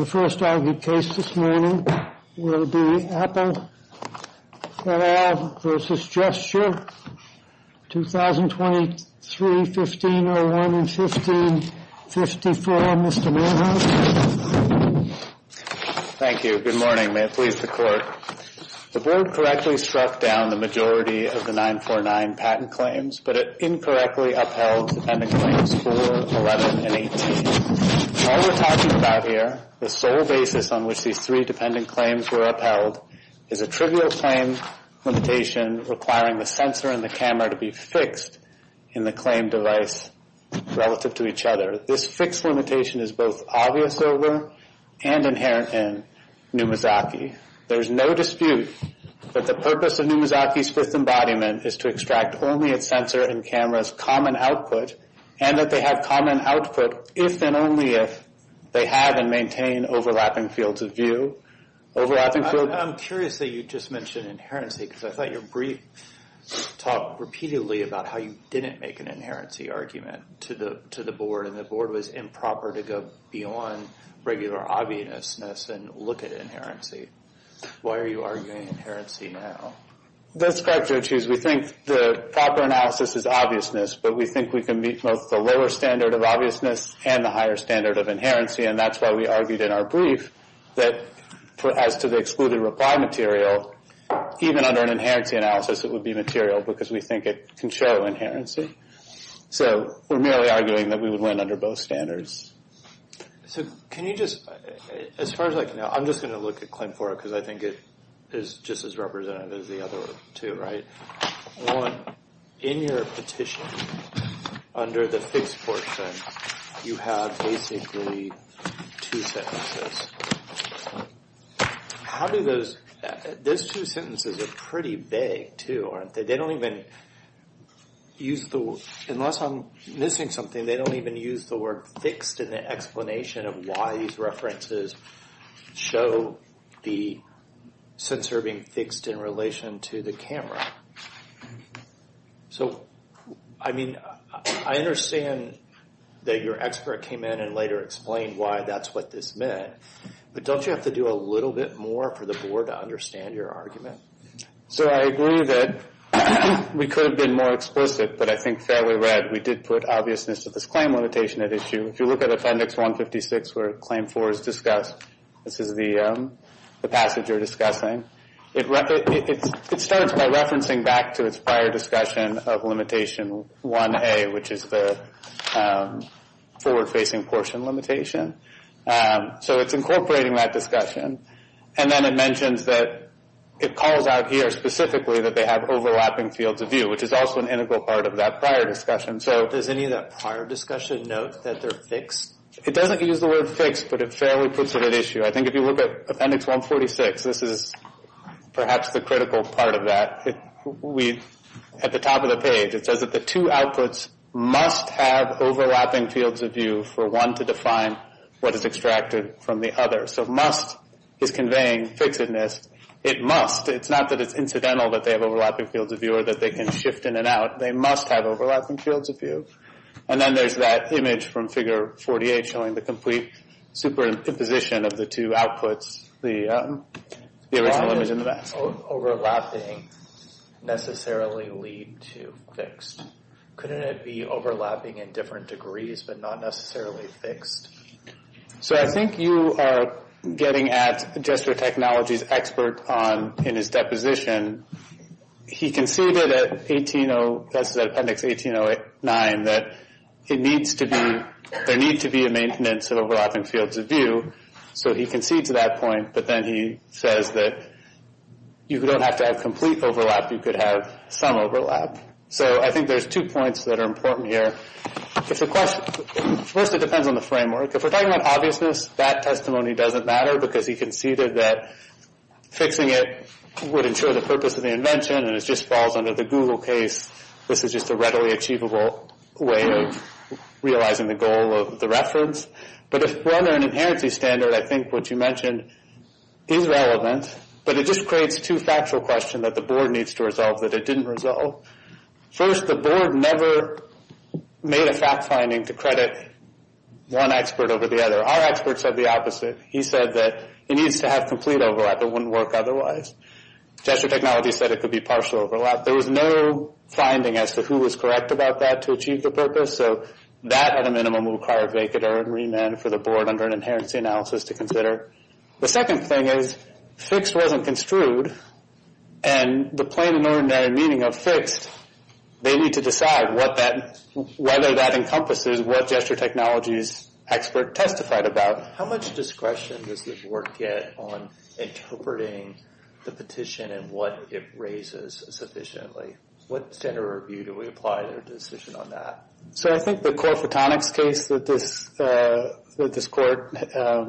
The first argued case this morning will be Apple et al. v. Gesture, 2023-15-01 and 15-54. Mr. Manhoff? Thank you. Good morning. May it please the Court. The Board correctly struck down the majority of the 949 patent claims, but it incorrectly upheld the pending claims 4, 11, and 18. All we're talking about here, the sole basis on which these three dependent claims were upheld, is a trivial claim limitation requiring the sensor and the camera to be fixed in the claimed device relative to each other. This fixed limitation is both obvious over and inherent in Numazaki. There is no dispute that the purpose of Numazaki's fifth embodiment is to extract only its sensor and camera's common output, and that they have common output if and only if they have and maintain overlapping fields of view. I'm curious that you just mentioned inherency, because I thought your brief talked repeatedly about how you didn't make an inherency argument to the Board, and the Board was improper to go beyond regular obviousness and look at inherency. Why are you arguing inherency now? That's correct, Judge Hughes. We think the proper analysis is obviousness, but we think we can meet both the lower standard of obviousness and the higher standard of inherency, and that's why we argued in our brief that as to the excluded reply material, even under an inherency analysis, it would be material because we think it can show inherency. So we're merely arguing that we would learn under both standards. So can you just, as far as I can tell, I'm just going to look at claim 4 because I think it is just as representative as the other two, right? In your petition, under the fixed portion, you have basically two sentences. How do those, those two sentences are pretty vague, too, aren't they? They don't even use the, unless I'm missing something, they don't even use the word fixed in the explanation of why these references show the sensor being fixed in relation to the camera. So, I mean, I understand that your expert came in and later explained why that's what this meant, but don't you have to do a little bit more for the Board to understand your argument? So I agree that we could have been more explicit, but I think fairly read, we did put obviousness to this claim limitation at issue. If you look at Appendix 156, where Claim 4 is discussed, this is the passage you're discussing, it starts by referencing back to its prior discussion of Limitation 1A, which is the forward-facing portion limitation. So it's incorporating that discussion, and then it mentions that it calls out here specifically that they have overlapping fields of view, which is also an integral part of that prior discussion. Does any of that prior discussion note that they're fixed? It doesn't use the word fixed, but it fairly puts it at issue. I think if you look at Appendix 146, this is perhaps the critical part of that. At the top of the page, it says that the two outputs must have overlapping fields of view for one to define what is extracted from the other. So must is conveying fixedness. It must. It's not that it's incidental that they have overlapping fields of view or that they can shift in and out. They must have overlapping fields of view. And then there's that image from Figure 48 showing the complete superimposition of the two outputs, the original image in the basket. Does overlapping necessarily lead to fixed? Couldn't it be overlapping in different degrees but not necessarily fixed? So I think you are getting at Jester Technology's expert in his deposition. He conceded at Appendix 1809 that there needs to be a maintenance of overlapping fields of view. So he concedes that point, but then he says that you don't have to have complete overlap. You could have some overlap. So I think there's two points that are important here. First, it depends on the framework. If we're talking about obviousness, that testimony doesn't matter because he conceded that fixing it would ensure the purpose of the invention, and it just falls under the Google case. This is just a readily achievable way of realizing the goal of the reference. But if we're under an inherency standard, I think what you mentioned is relevant, but it just creates two factual questions that the board needs to resolve that it didn't resolve. First, the board never made a fact finding to credit one expert over the other. Our expert said the opposite. He said that it needs to have complete overlap. It wouldn't work otherwise. Jester Technology said it could be partial overlap. There was no finding as to who was correct about that to achieve the purpose. So that, at a minimum, would require a vacater and remand for the board under an inherency analysis to consider. The second thing is fixed wasn't construed, and the plain and ordinary meaning of fixed, they need to decide whether that encompasses what Jester Technology's expert testified about. How much discretion does the board get on interpreting the petition and what it raises sufficiently? What standard review do we apply to their decision on that? So I think the core photonics case that this court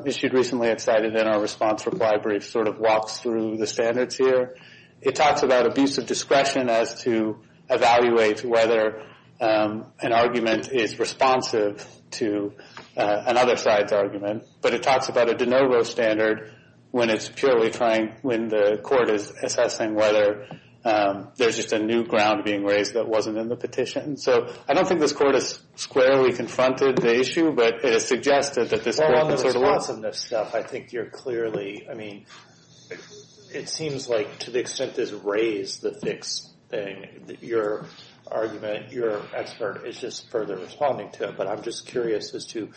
issued recently, it's cited in our response reply brief, sort of walks through the standards here. It talks about abuse of discretion as to evaluate whether an argument is responsive to another side's argument. But it talks about a de novo standard when it's purely trying, when the court is assessing whether there's just a new ground being raised that wasn't in the petition. So I don't think this court has squarely confronted the issue, but it has suggested that this court can sort of work. Well, on the responsiveness stuff, I think you're clearly, I mean, it seems like to the extent this raised the fixed thing, your argument, your expert is just further responding to it. But I'm just curious as to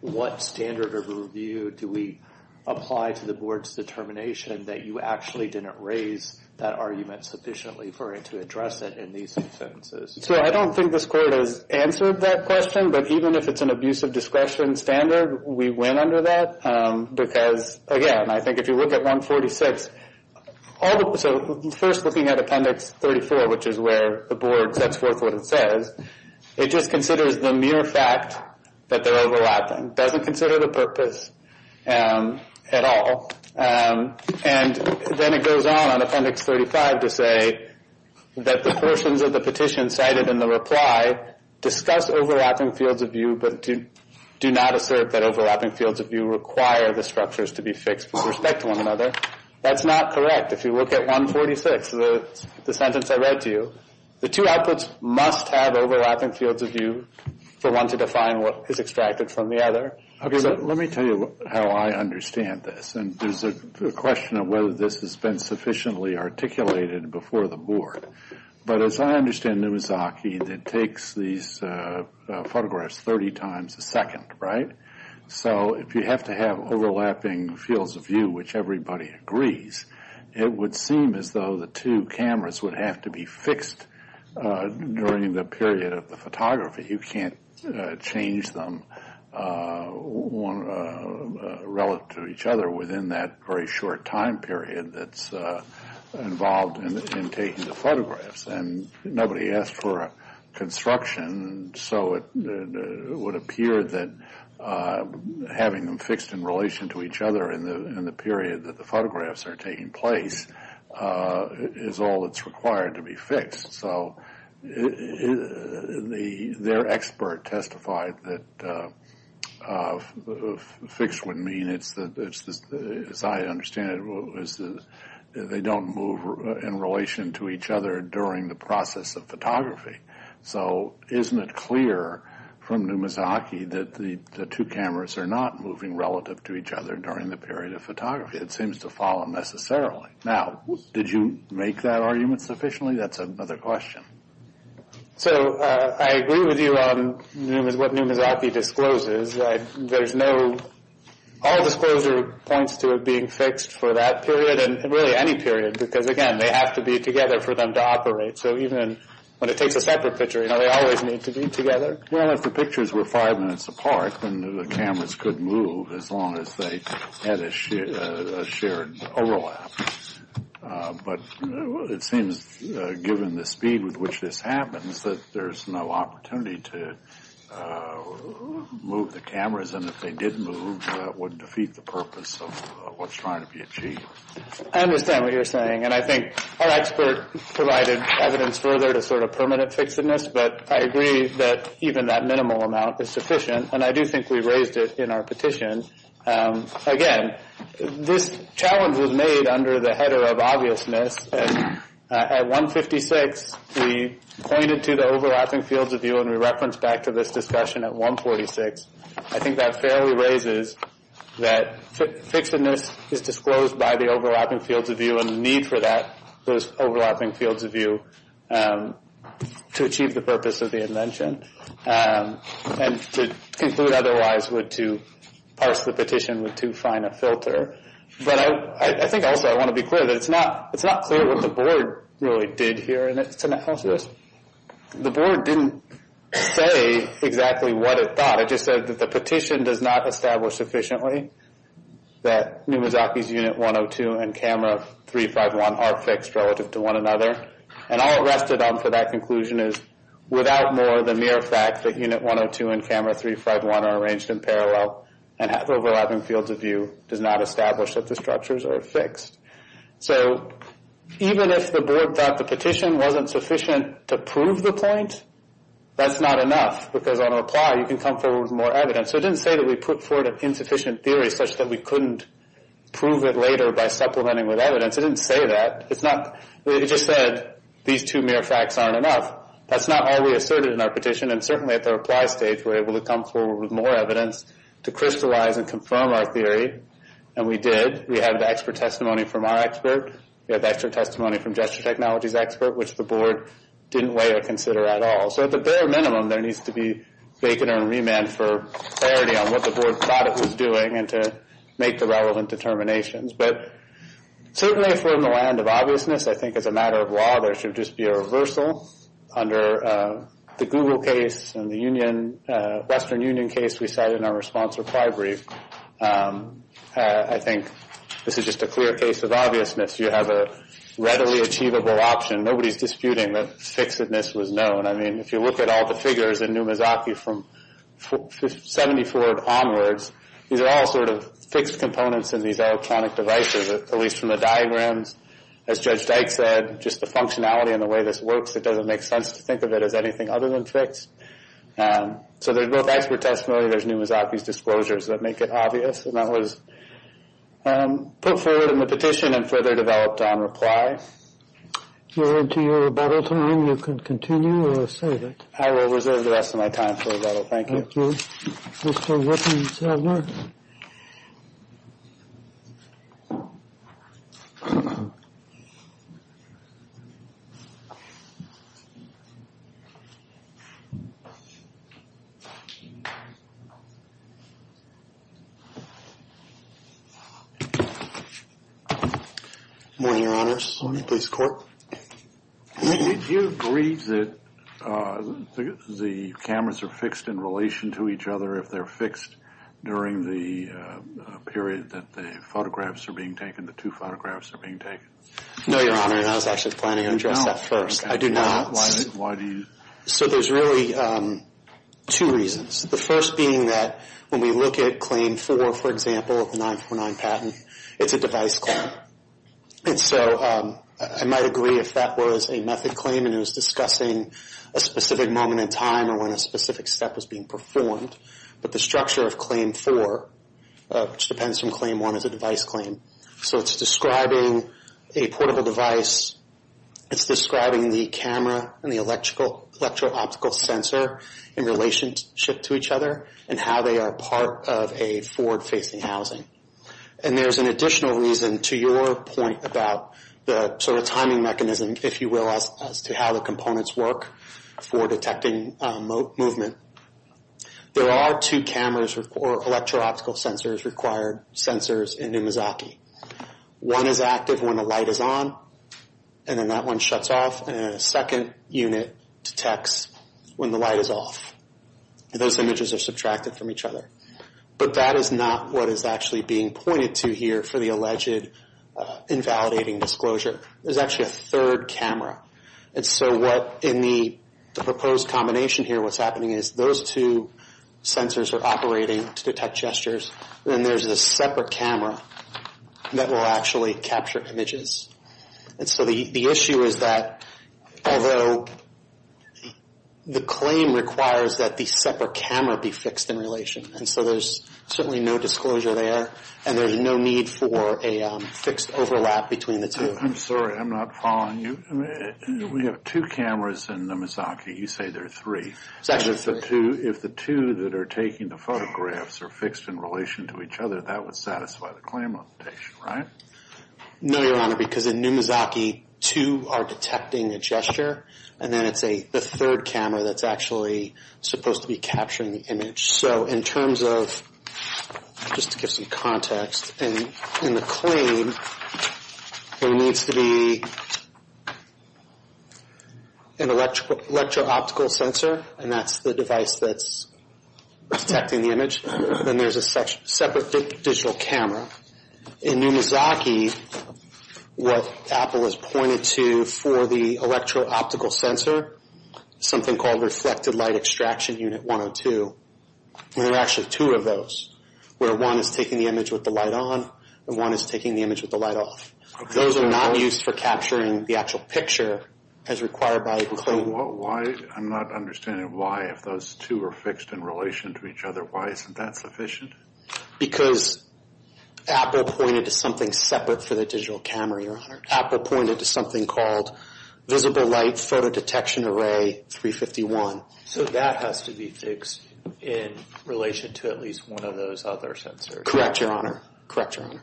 what standard of review do we apply to the board's determination that you actually didn't raise that argument sufficiently for it to address it in these sentences? So I don't think this court has answered that question. But even if it's an abuse of discretion standard, we went under that because, again, I think if you look at 146, so first looking at Appendix 34, which is where the board sets forth what it says, it just considers the mere fact that they're overlapping, doesn't consider the purpose at all. And then it goes on on Appendix 35 to say that the portions of the petition cited in the reply discuss overlapping fields of view, but do not assert that overlapping fields of view require the structures to be fixed with respect to one another. That's not correct. In fact, if you look at 146, the sentence I read to you, the two outputs must have overlapping fields of view for one to define what is extracted from the other. Let me tell you how I understand this. And there's a question of whether this has been sufficiently articulated before the board. But as I understand, it was Aki that takes these photographs 30 times a second, right? So if you have to have overlapping fields of view, which everybody agrees, it would seem as though the two cameras would have to be fixed during the period of the photography. You can't change them relative to each other within that very short time period that's involved in taking the photographs. And nobody asked for a construction, so it would appear that having them fixed in relation to each other in the period that the photographs are taking place is all that's required to be fixed. So their expert testified that fixed would mean, as I understand it, they don't move in relation to each other during the process of photography. So isn't it clear from Numazaki that the two cameras are not moving relative to each other during the period of photography? It seems to follow necessarily. Now, did you make that argument sufficiently? That's another question. So I agree with you on what Numazaki discloses. All disclosure points to it being fixed for that period, and really any period, because, again, they have to be together for them to operate. So even when it takes a separate picture, they always need to be together. Well, if the pictures were five minutes apart, then the cameras could move as long as they had a shared overlap. But it seems, given the speed with which this happens, that there's no opportunity to move the cameras. And if they did move, that would defeat the purpose of what's trying to be achieved. I understand what you're saying. And I think our expert provided evidence further to sort of permanent fixedness, but I agree that even that minimal amount is sufficient. And I do think we raised it in our petition. Again, this challenge was made under the header of obviousness. At 156, we pointed to the overlapping fields of view, and we referenced back to this discussion at 146. I think that fairly raises that fixedness is disclosed by the overlapping fields of view and the need for those overlapping fields of view to achieve the purpose of the invention and to conclude otherwise would to parse the petition with too fine a filter. But I think also I want to be clear that it's not clear what the board really did here. The board didn't say exactly what it thought. It just said that the petition does not establish sufficiently that Numizaki's unit 102 and camera 351 are fixed relative to one another. And all it rested on for that conclusion is, without more, the mere fact that unit 102 and camera 351 are arranged in parallel and have overlapping fields of view does not establish that the structures are fixed. So even if the board thought the petition wasn't sufficient to prove the point, that's not enough, because on a ply, you can come forward with more evidence. So it didn't say that we put forward an insufficient theory such that we couldn't prove it later by supplementing with evidence. It didn't say that. It just said these two mere facts aren't enough. That's not all we asserted in our petition, and certainly at the reply stage we were able to come forward with more evidence to crystallize and confirm our theory, and we did. We had the expert testimony from our expert. We had the expert testimony from gesture technology's expert, which the board didn't weigh or consider at all. So at the bare minimum, there needs to be bacon and remand for clarity on what the board thought it was doing and to make the relevant determinations. But certainly if we're in the land of obviousness, I think as a matter of law, there should just be a reversal under the Google case and the Western Union case we cited in our response reply brief. I think this is just a clear case of obviousness. You have a readily achievable option. Nobody's disputing that fixedness was known. I mean, if you look at all the figures in Numizaki from 74 onwards, these are all sort of fixed components in these electronic devices, at least from the diagrams. As Judge Dyke said, just the functionality and the way this works, it doesn't make sense to think of it as anything other than fixed. So there's both expert testimony and there's Numizaki's disclosures that make it obvious, and that was put forward in the petition and further developed on reply. If you're into your rebuttal time, you can continue or save it. I will reserve the rest of my time for rebuttal. Thank you. Thank you. Good morning, Your Honors. Good morning, please, Court. Did you agree that the cameras are fixed in relation to each other if they're fixed during the period that the photographs are being taken, the two photographs are being taken? No, Your Honor, and I was actually planning on addressing that first. I do not. Why do you? So there's really two reasons, the first being that when we look at Claim 4, for example, of the 949 patent, it's a device claim. And so I might agree if that was a method claim and it was discussing a specific moment in time or when a specific step was being performed. But the structure of Claim 4, which depends from Claim 1, is a device claim. So it's describing a portable device. It's describing the camera and the electro-optical sensor in relationship to each other and how they are part of a forward-facing housing. And there's an additional reason to your point about the sort of timing mechanism, if you will, as to how the components work for detecting movement. There are two cameras or electro-optical sensors required, sensors in Umazaki. One is active when the light is on, and then that one shuts off, and then a second unit detects when the light is off. Those images are subtracted from each other. But that is not what is actually being pointed to here for the alleged invalidating disclosure. There's actually a third camera. And so what in the proposed combination here, what's happening is those two sensors are operating to detect gestures. Then there's a separate camera that will actually capture images. And so the issue is that although the claim requires that the separate camera be fixed in relation, and so there's certainly no disclosure there, and there's no need for a fixed overlap between the two. I'm sorry, I'm not following you. We have two cameras in Umazaki. You say there are three. It's actually three. If the two that are taking the photographs are fixed in relation to each other, that would satisfy the claim of the patient, right? No, Your Honor, because in Umazaki, two are detecting a gesture, and then it's the third camera that's actually supposed to be capturing the image. So in terms of, just to give some context, in the claim there needs to be an electro-optical sensor, and that's the device that's detecting the image. Then there's a separate digital camera. In Umazaki, what Apple has pointed to for the electro-optical sensor, something called Reflected Light Extraction Unit 102, there are actually two of those, where one is taking the image with the light on and one is taking the image with the light off. Those are not used for capturing the actual picture as required by the claim. I'm not understanding why, if those two are fixed in relation to each other, why isn't that sufficient? Because Apple pointed to something separate for the digital camera, Your Honor. Apple pointed to something called Visible Light Photo Detection Array 351. So that has to be fixed in relation to at least one of those other sensors. Correct, Your Honor. Correct, Your Honor.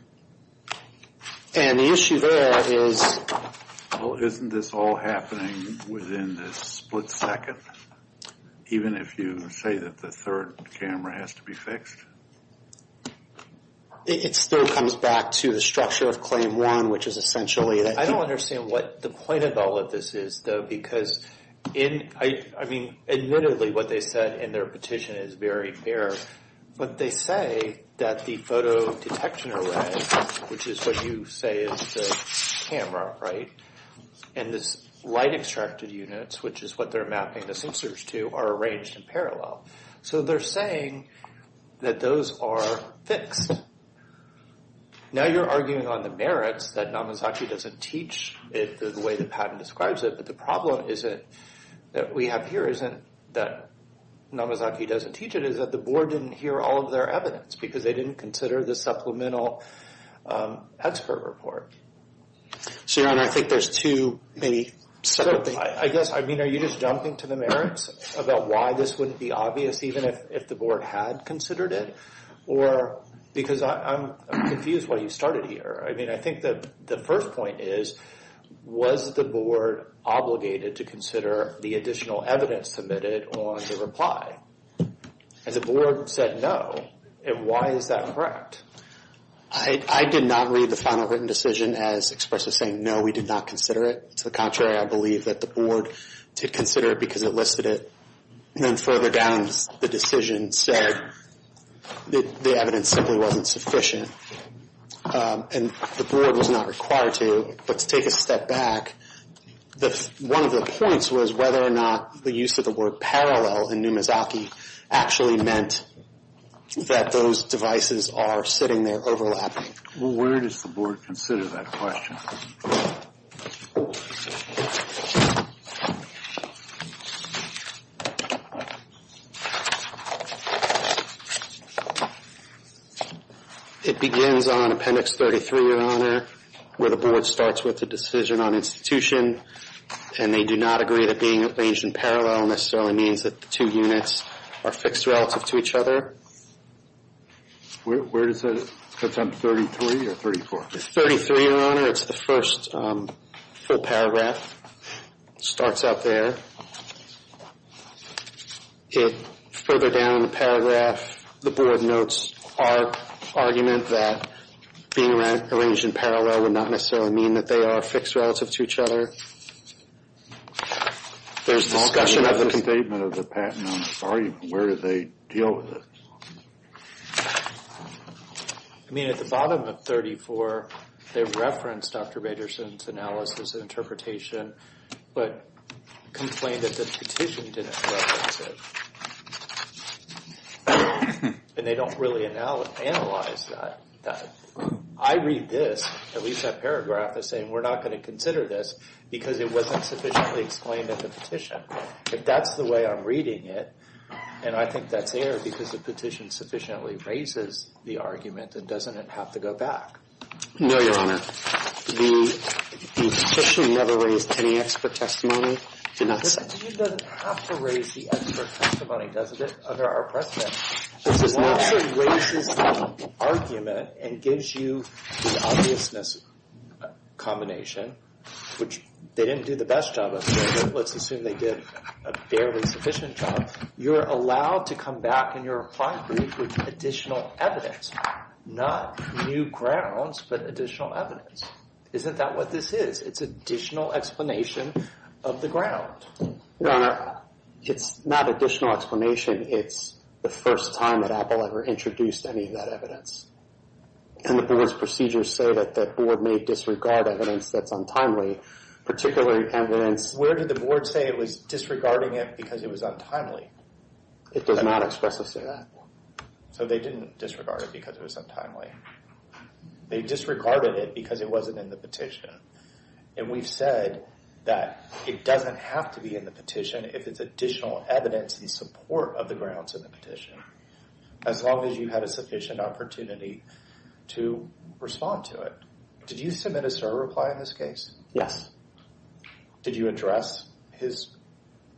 And the issue there is… Well, isn't this all happening within the split second? Even if you say that the third camera has to be fixed? It still comes back to the structure of Claim 1, which is essentially… I don't understand what the point of all of this is, though, because, I mean, admittedly what they said in their petition is very fair, but they say that the photo detection array, which is what you say is the camera, right, and this light-extracted units, which is what they're mapping the sensors to, are arranged in parallel. So they're saying that those are fixed. Now you're arguing on the merits that Namazaki doesn't teach it the way the patent describes it, but the problem that we have here isn't that Namazaki doesn't teach it, it's that the board didn't hear all of their evidence, because they didn't consider the supplemental expert report. So, Your Honor, I think there's two maybe separate things. I guess, I mean, are you just jumping to the merits about why this wouldn't be obvious even if the board had considered it? Or because I'm confused why you started here. I mean, I think that the first point is, was the board obligated to consider the additional evidence submitted on the reply? And the board said no, and why is that correct? I did not read the final written decision as expressive saying, no, we did not consider it. To the contrary, I believe that the board did consider it because it listed it. And then further down the decision said that the evidence simply wasn't sufficient. And the board was not required to. But to take a step back, one of the points was whether or not the use of the word parallel in Namazaki actually meant that those devices are sitting there overlapping. Well, where does the board consider that question? It begins on Appendix 33, Your Honor, where the board starts with the decision on institution. And they do not agree that being arranged in parallel necessarily means that the two units are fixed relative to each other. Where does that, that's on 33 or 34? 33, Your Honor. It's the first full paragraph. It starts up there. Further down the paragraph, the board notes our argument that being arranged in parallel would not necessarily mean that they are fixed relative to each other. There's discussion of the statement of the patent on this argument. Where do they deal with it? I mean, at the bottom of 34, they referenced Dr. Baderson's analysis and interpretation, but complained that the petition didn't reference it. And they don't really analyze that. I read this, at least that paragraph, as saying we're not going to consider this because it wasn't sufficiently explained in the petition. If that's the way I'm reading it, and I think that's air, because the petition sufficiently raises the argument, then doesn't it have to go back? No, Your Honor. The petition never raised any expert testimony. The petition doesn't have to raise the expert testimony, doesn't it, under our precedent? It just naturally raises the argument and gives you the obviousness combination, which they didn't do the best job of. Let's assume they did a barely sufficient job. You're allowed to come back in your reply brief with additional evidence. Not new grounds, but additional evidence. Isn't that what this is? It's additional explanation of the ground. Your Honor, it's not additional explanation. It's the first time that Apple ever introduced any of that evidence. And the board's procedures say that the board may disregard evidence that's untimely, particularly evidence... Where did the board say it was disregarding it because it was untimely? It does not express us to that. So they didn't disregard it because it was untimely. They disregarded it because it wasn't in the petition. And we've said that it doesn't have to be in the petition if it's additional evidence in support of the grounds in the petition, as long as you had a sufficient opportunity to respond to it. Did you submit a cert reply in this case? Yes. Did you address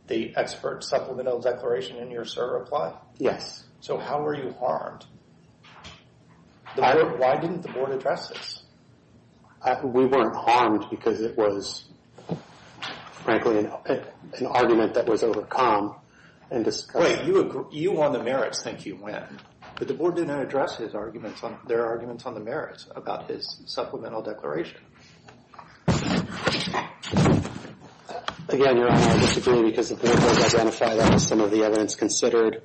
the expert supplemental declaration in your cert reply? Yes. So how were you harmed? Why didn't the board address this? We weren't harmed because it was, frankly, an argument that was overcome. Wait, you on the merits think you win, but the board didn't address their arguments on the merits about his supplemental declaration. Again, Your Honor, I disagree because the board doesn't identify that as some of the evidence considered.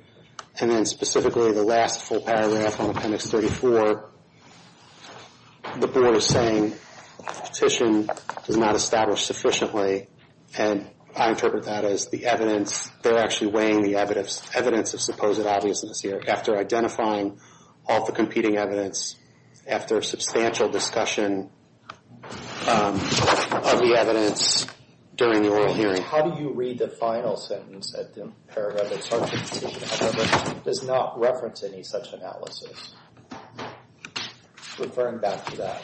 And then specifically the last full paragraph on Appendix 34, the board is saying the petition is not established sufficiently. And I interpret that as the evidence. They're actually weighing the evidence of supposed obviousness here after identifying all the competing evidence, after substantial discussion of the evidence during the oral hearing. How do you read the final sentence at the paragraph that starts with the petition? It does not reference any such analysis. Referring back to that.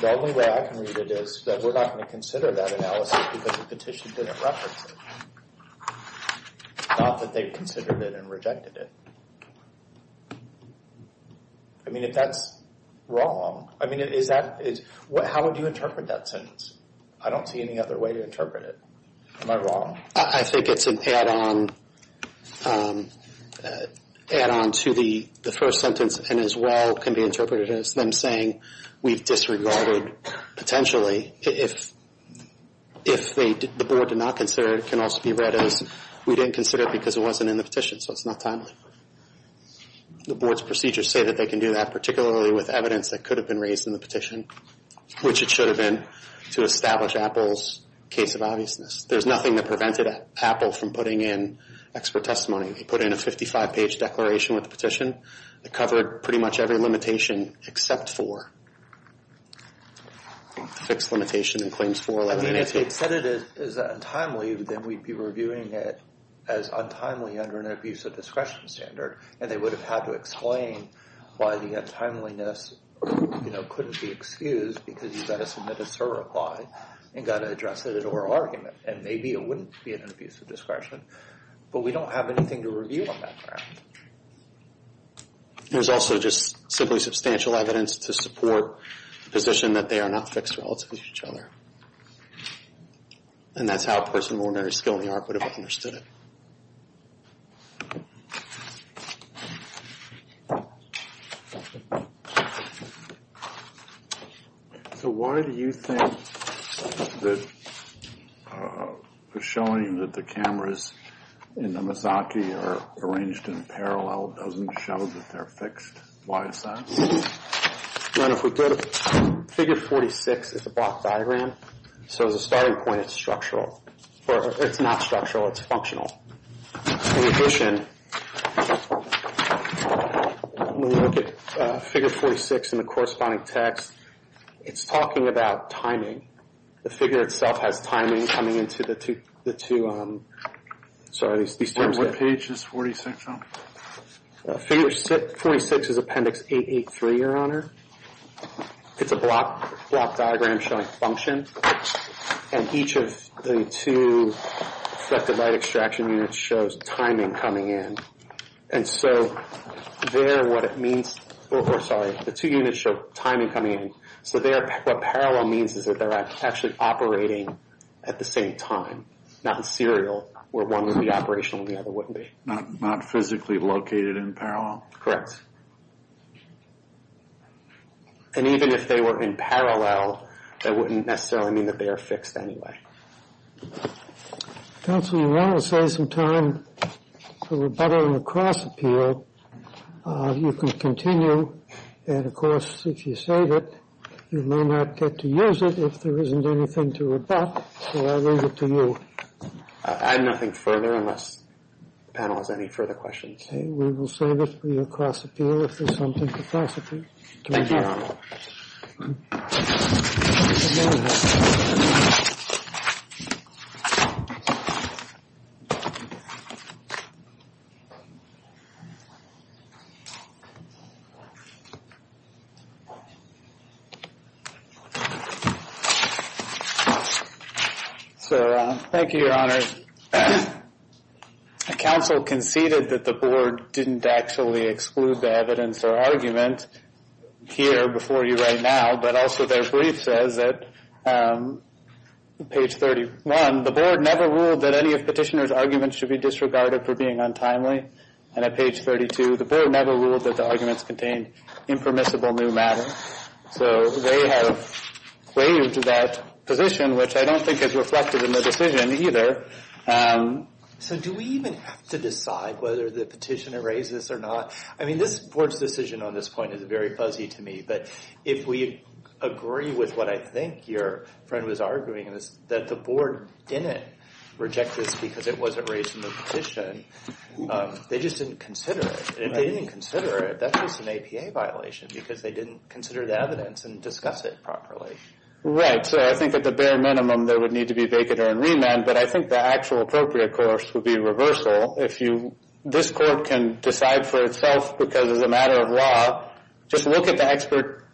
The only way I can read it is that we're not going to consider that analysis because the petition didn't reference it. Not that they considered it and rejected it. I mean, if that's wrong, I mean, is that, how would you interpret that sentence? I don't see any other way to interpret it. Am I wrong? I think it's an add-on to the first sentence and as well can be interpreted as them saying we've disregarded potentially. If the board did not consider it, it can also be read as we didn't consider it because it wasn't in the petition, so it's not timely. The board's procedures say that they can do that, particularly with evidence that could have been raised in the petition, which it should have been to establish Apple's case of obviousness. There's nothing that prevented Apple from putting in expert testimony. They put in a 55-page declaration with the petition that covered pretty much every limitation except for the fixed limitation in Claims 411. I mean, if they said it is untimely, then we'd be reviewing it as untimely under an abuse of discretion standard and they would have had to explain why the untimeliness, you know, couldn't be excused because you got a submitted SIR reply and got to address it in oral argument and maybe it wouldn't be an abuse of discretion. But we don't have anything to review on that ground. There's also just simply substantial evidence to support the position that they are not fixed relative to each other. And that's how a person of ordinary skill in the art would have understood it. So why do you think that showing that the cameras in the Misaki are arranged in parallel doesn't show that they're fixed? Why is that? Figure 46 is a block diagram, so the starting point is structural. It's not structural, it's functional. In addition, when we look at Figure 46 in the corresponding text, it's talking about timing. The figure itself has timing coming into the two, sorry, these terms. What page is 46 on? Figure 46 is Appendix 883, Your Honor. It's a block diagram showing function. And each of the two reflective light extraction units shows timing coming in. And so there, what it means, or sorry, the two units show timing coming in. So there, what parallel means is that they're actually operating at the same time, not in serial, where one would be operational and the other wouldn't be. Not physically located in parallel? Correct. And even if they were in parallel, that wouldn't necessarily mean that they are fixed anyway. Counselor, you want to save some time for rebuttal in the cross appeal. You can continue, and of course, if you save it, you may not get to use it if there isn't anything to rebut. So I leave it to you. I have nothing further unless the panel has any further questions. Okay, we will save it for your cross appeal if there's something to cross appeal. Thank you, Your Honor. Sir, thank you, Your Honor. Counsel conceded that the board didn't actually exclude the evidence or argument here before you right now, but also their brief says that, page 31, the board never ruled that any of petitioner's arguments should be disregarded for being untimely. And at page 32, the board never ruled that the arguments contained impermissible new matter. So they have waived that position, which I don't think is reflected in the decision either. So do we even have to decide whether the petitioner raises or not? I mean, this board's decision on this point is very fuzzy to me, but if we agree with what I think your friend was arguing, that the board didn't reject this because it wasn't raised in the petition, they just didn't consider it. If they didn't consider it, that's just an APA violation because they didn't consider the evidence and discuss it properly. Right, so I think at the bare minimum, there would need to be vacate or remand, but I think the actual appropriate course would be reversal. If this court can decide for itself because it's a matter of law, just look at the expert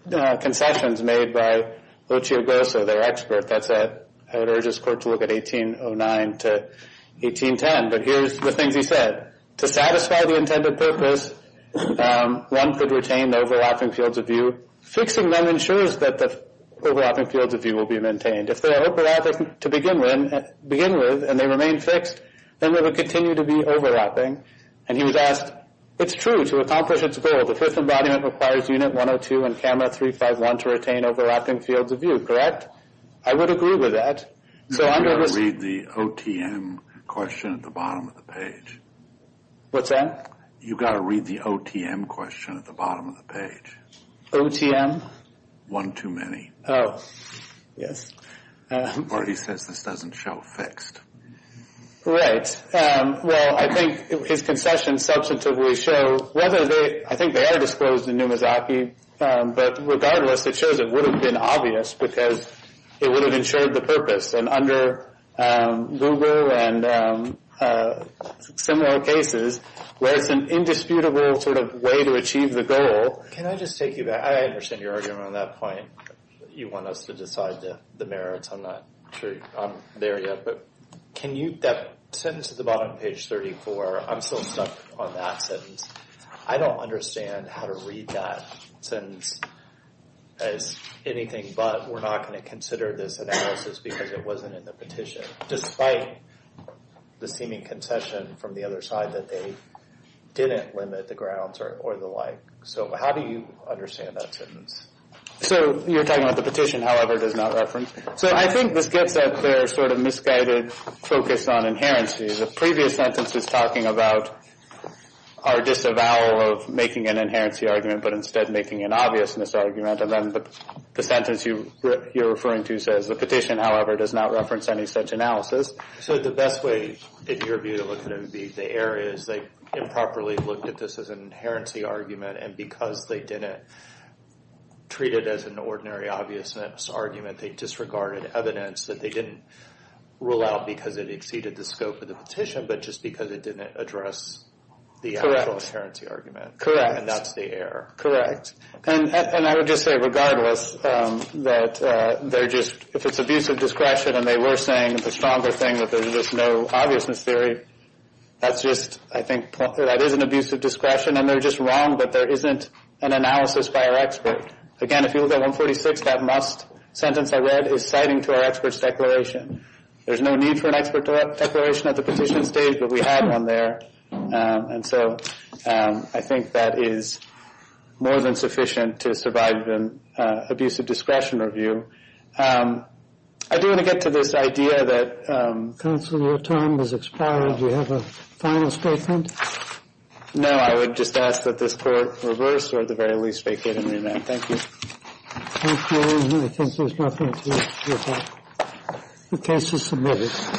concessions made by Ochoagosa, their expert. I would urge this court to look at 1809 to 1810, but here's the things he said. To satisfy the intended purpose, one could retain the overlapping fields of view. Fixing them ensures that the overlapping fields of view will be maintained. If they're overlapped to begin with and they remain fixed, then they would continue to be overlapping. And he was asked, it's true, to accomplish its goal, the fifth embodiment requires unit 102 and camera 351 to retain overlapping fields of view, correct? I would agree with that. No, you've got to read the OTM question at the bottom of the page. What's that? You've got to read the OTM question at the bottom of the page. OTM? One too many. Oh, yes. Or he says this doesn't show fixed. Right. Well, I think his concessions substantively show, I think they are disclosed in Numizaki, but regardless it shows it would have been obvious because it would have ensured the purpose. And under Gugu and similar cases, where it's an indisputable sort of way to achieve the goal. Can I just take you back? I understand you're arguing on that point. You want us to decide the merits. I'm not sure I'm there yet, but that sentence at the bottom of page 34, I'm still stuck on that sentence. I don't understand how to read that sentence as anything but we're not going to consider this analysis because it wasn't in the petition, despite the seeming concession from the other side that they didn't limit the grounds or the like. So how do you understand that sentence? So you're talking about the petition, however, does not reference. So I think this gets at their sort of misguided focus on inherency. The previous sentence is talking about our disavowal of making an inherency argument, but instead making an obviousness argument. And then the sentence you're referring to says, the petition, however, does not reference any such analysis. So the best way, in your view, to look at it would be the areas they improperly looked at this as an inherency argument and because they didn't treat it as an ordinary obviousness argument, they disregarded evidence that they didn't rule out because it exceeded the scope of the petition, but just because it didn't address the actual inherency argument. And that's the error. Correct. And I would just say, regardless, that they're just, if it's abuse of discretion and they were saying the stronger thing, that there's just no obviousness theory, that's just, I think, that is an abuse of discretion and they're just wrong that there isn't an analysis by our expert. Again, if you look at 146, that must sentence I read is citing to our expert's declaration. There's no need for an expert declaration at the petition stage, but we had one there. And so I think that is more than sufficient to survive an abuse of discretion review. I do want to get to this idea that... Counsel, your time has expired. Do you have a final statement? No, I would just ask that this court reverse or at the very least vacate and remand. Thank you. Thank you. And I think there's nothing else we have. The case is submitted.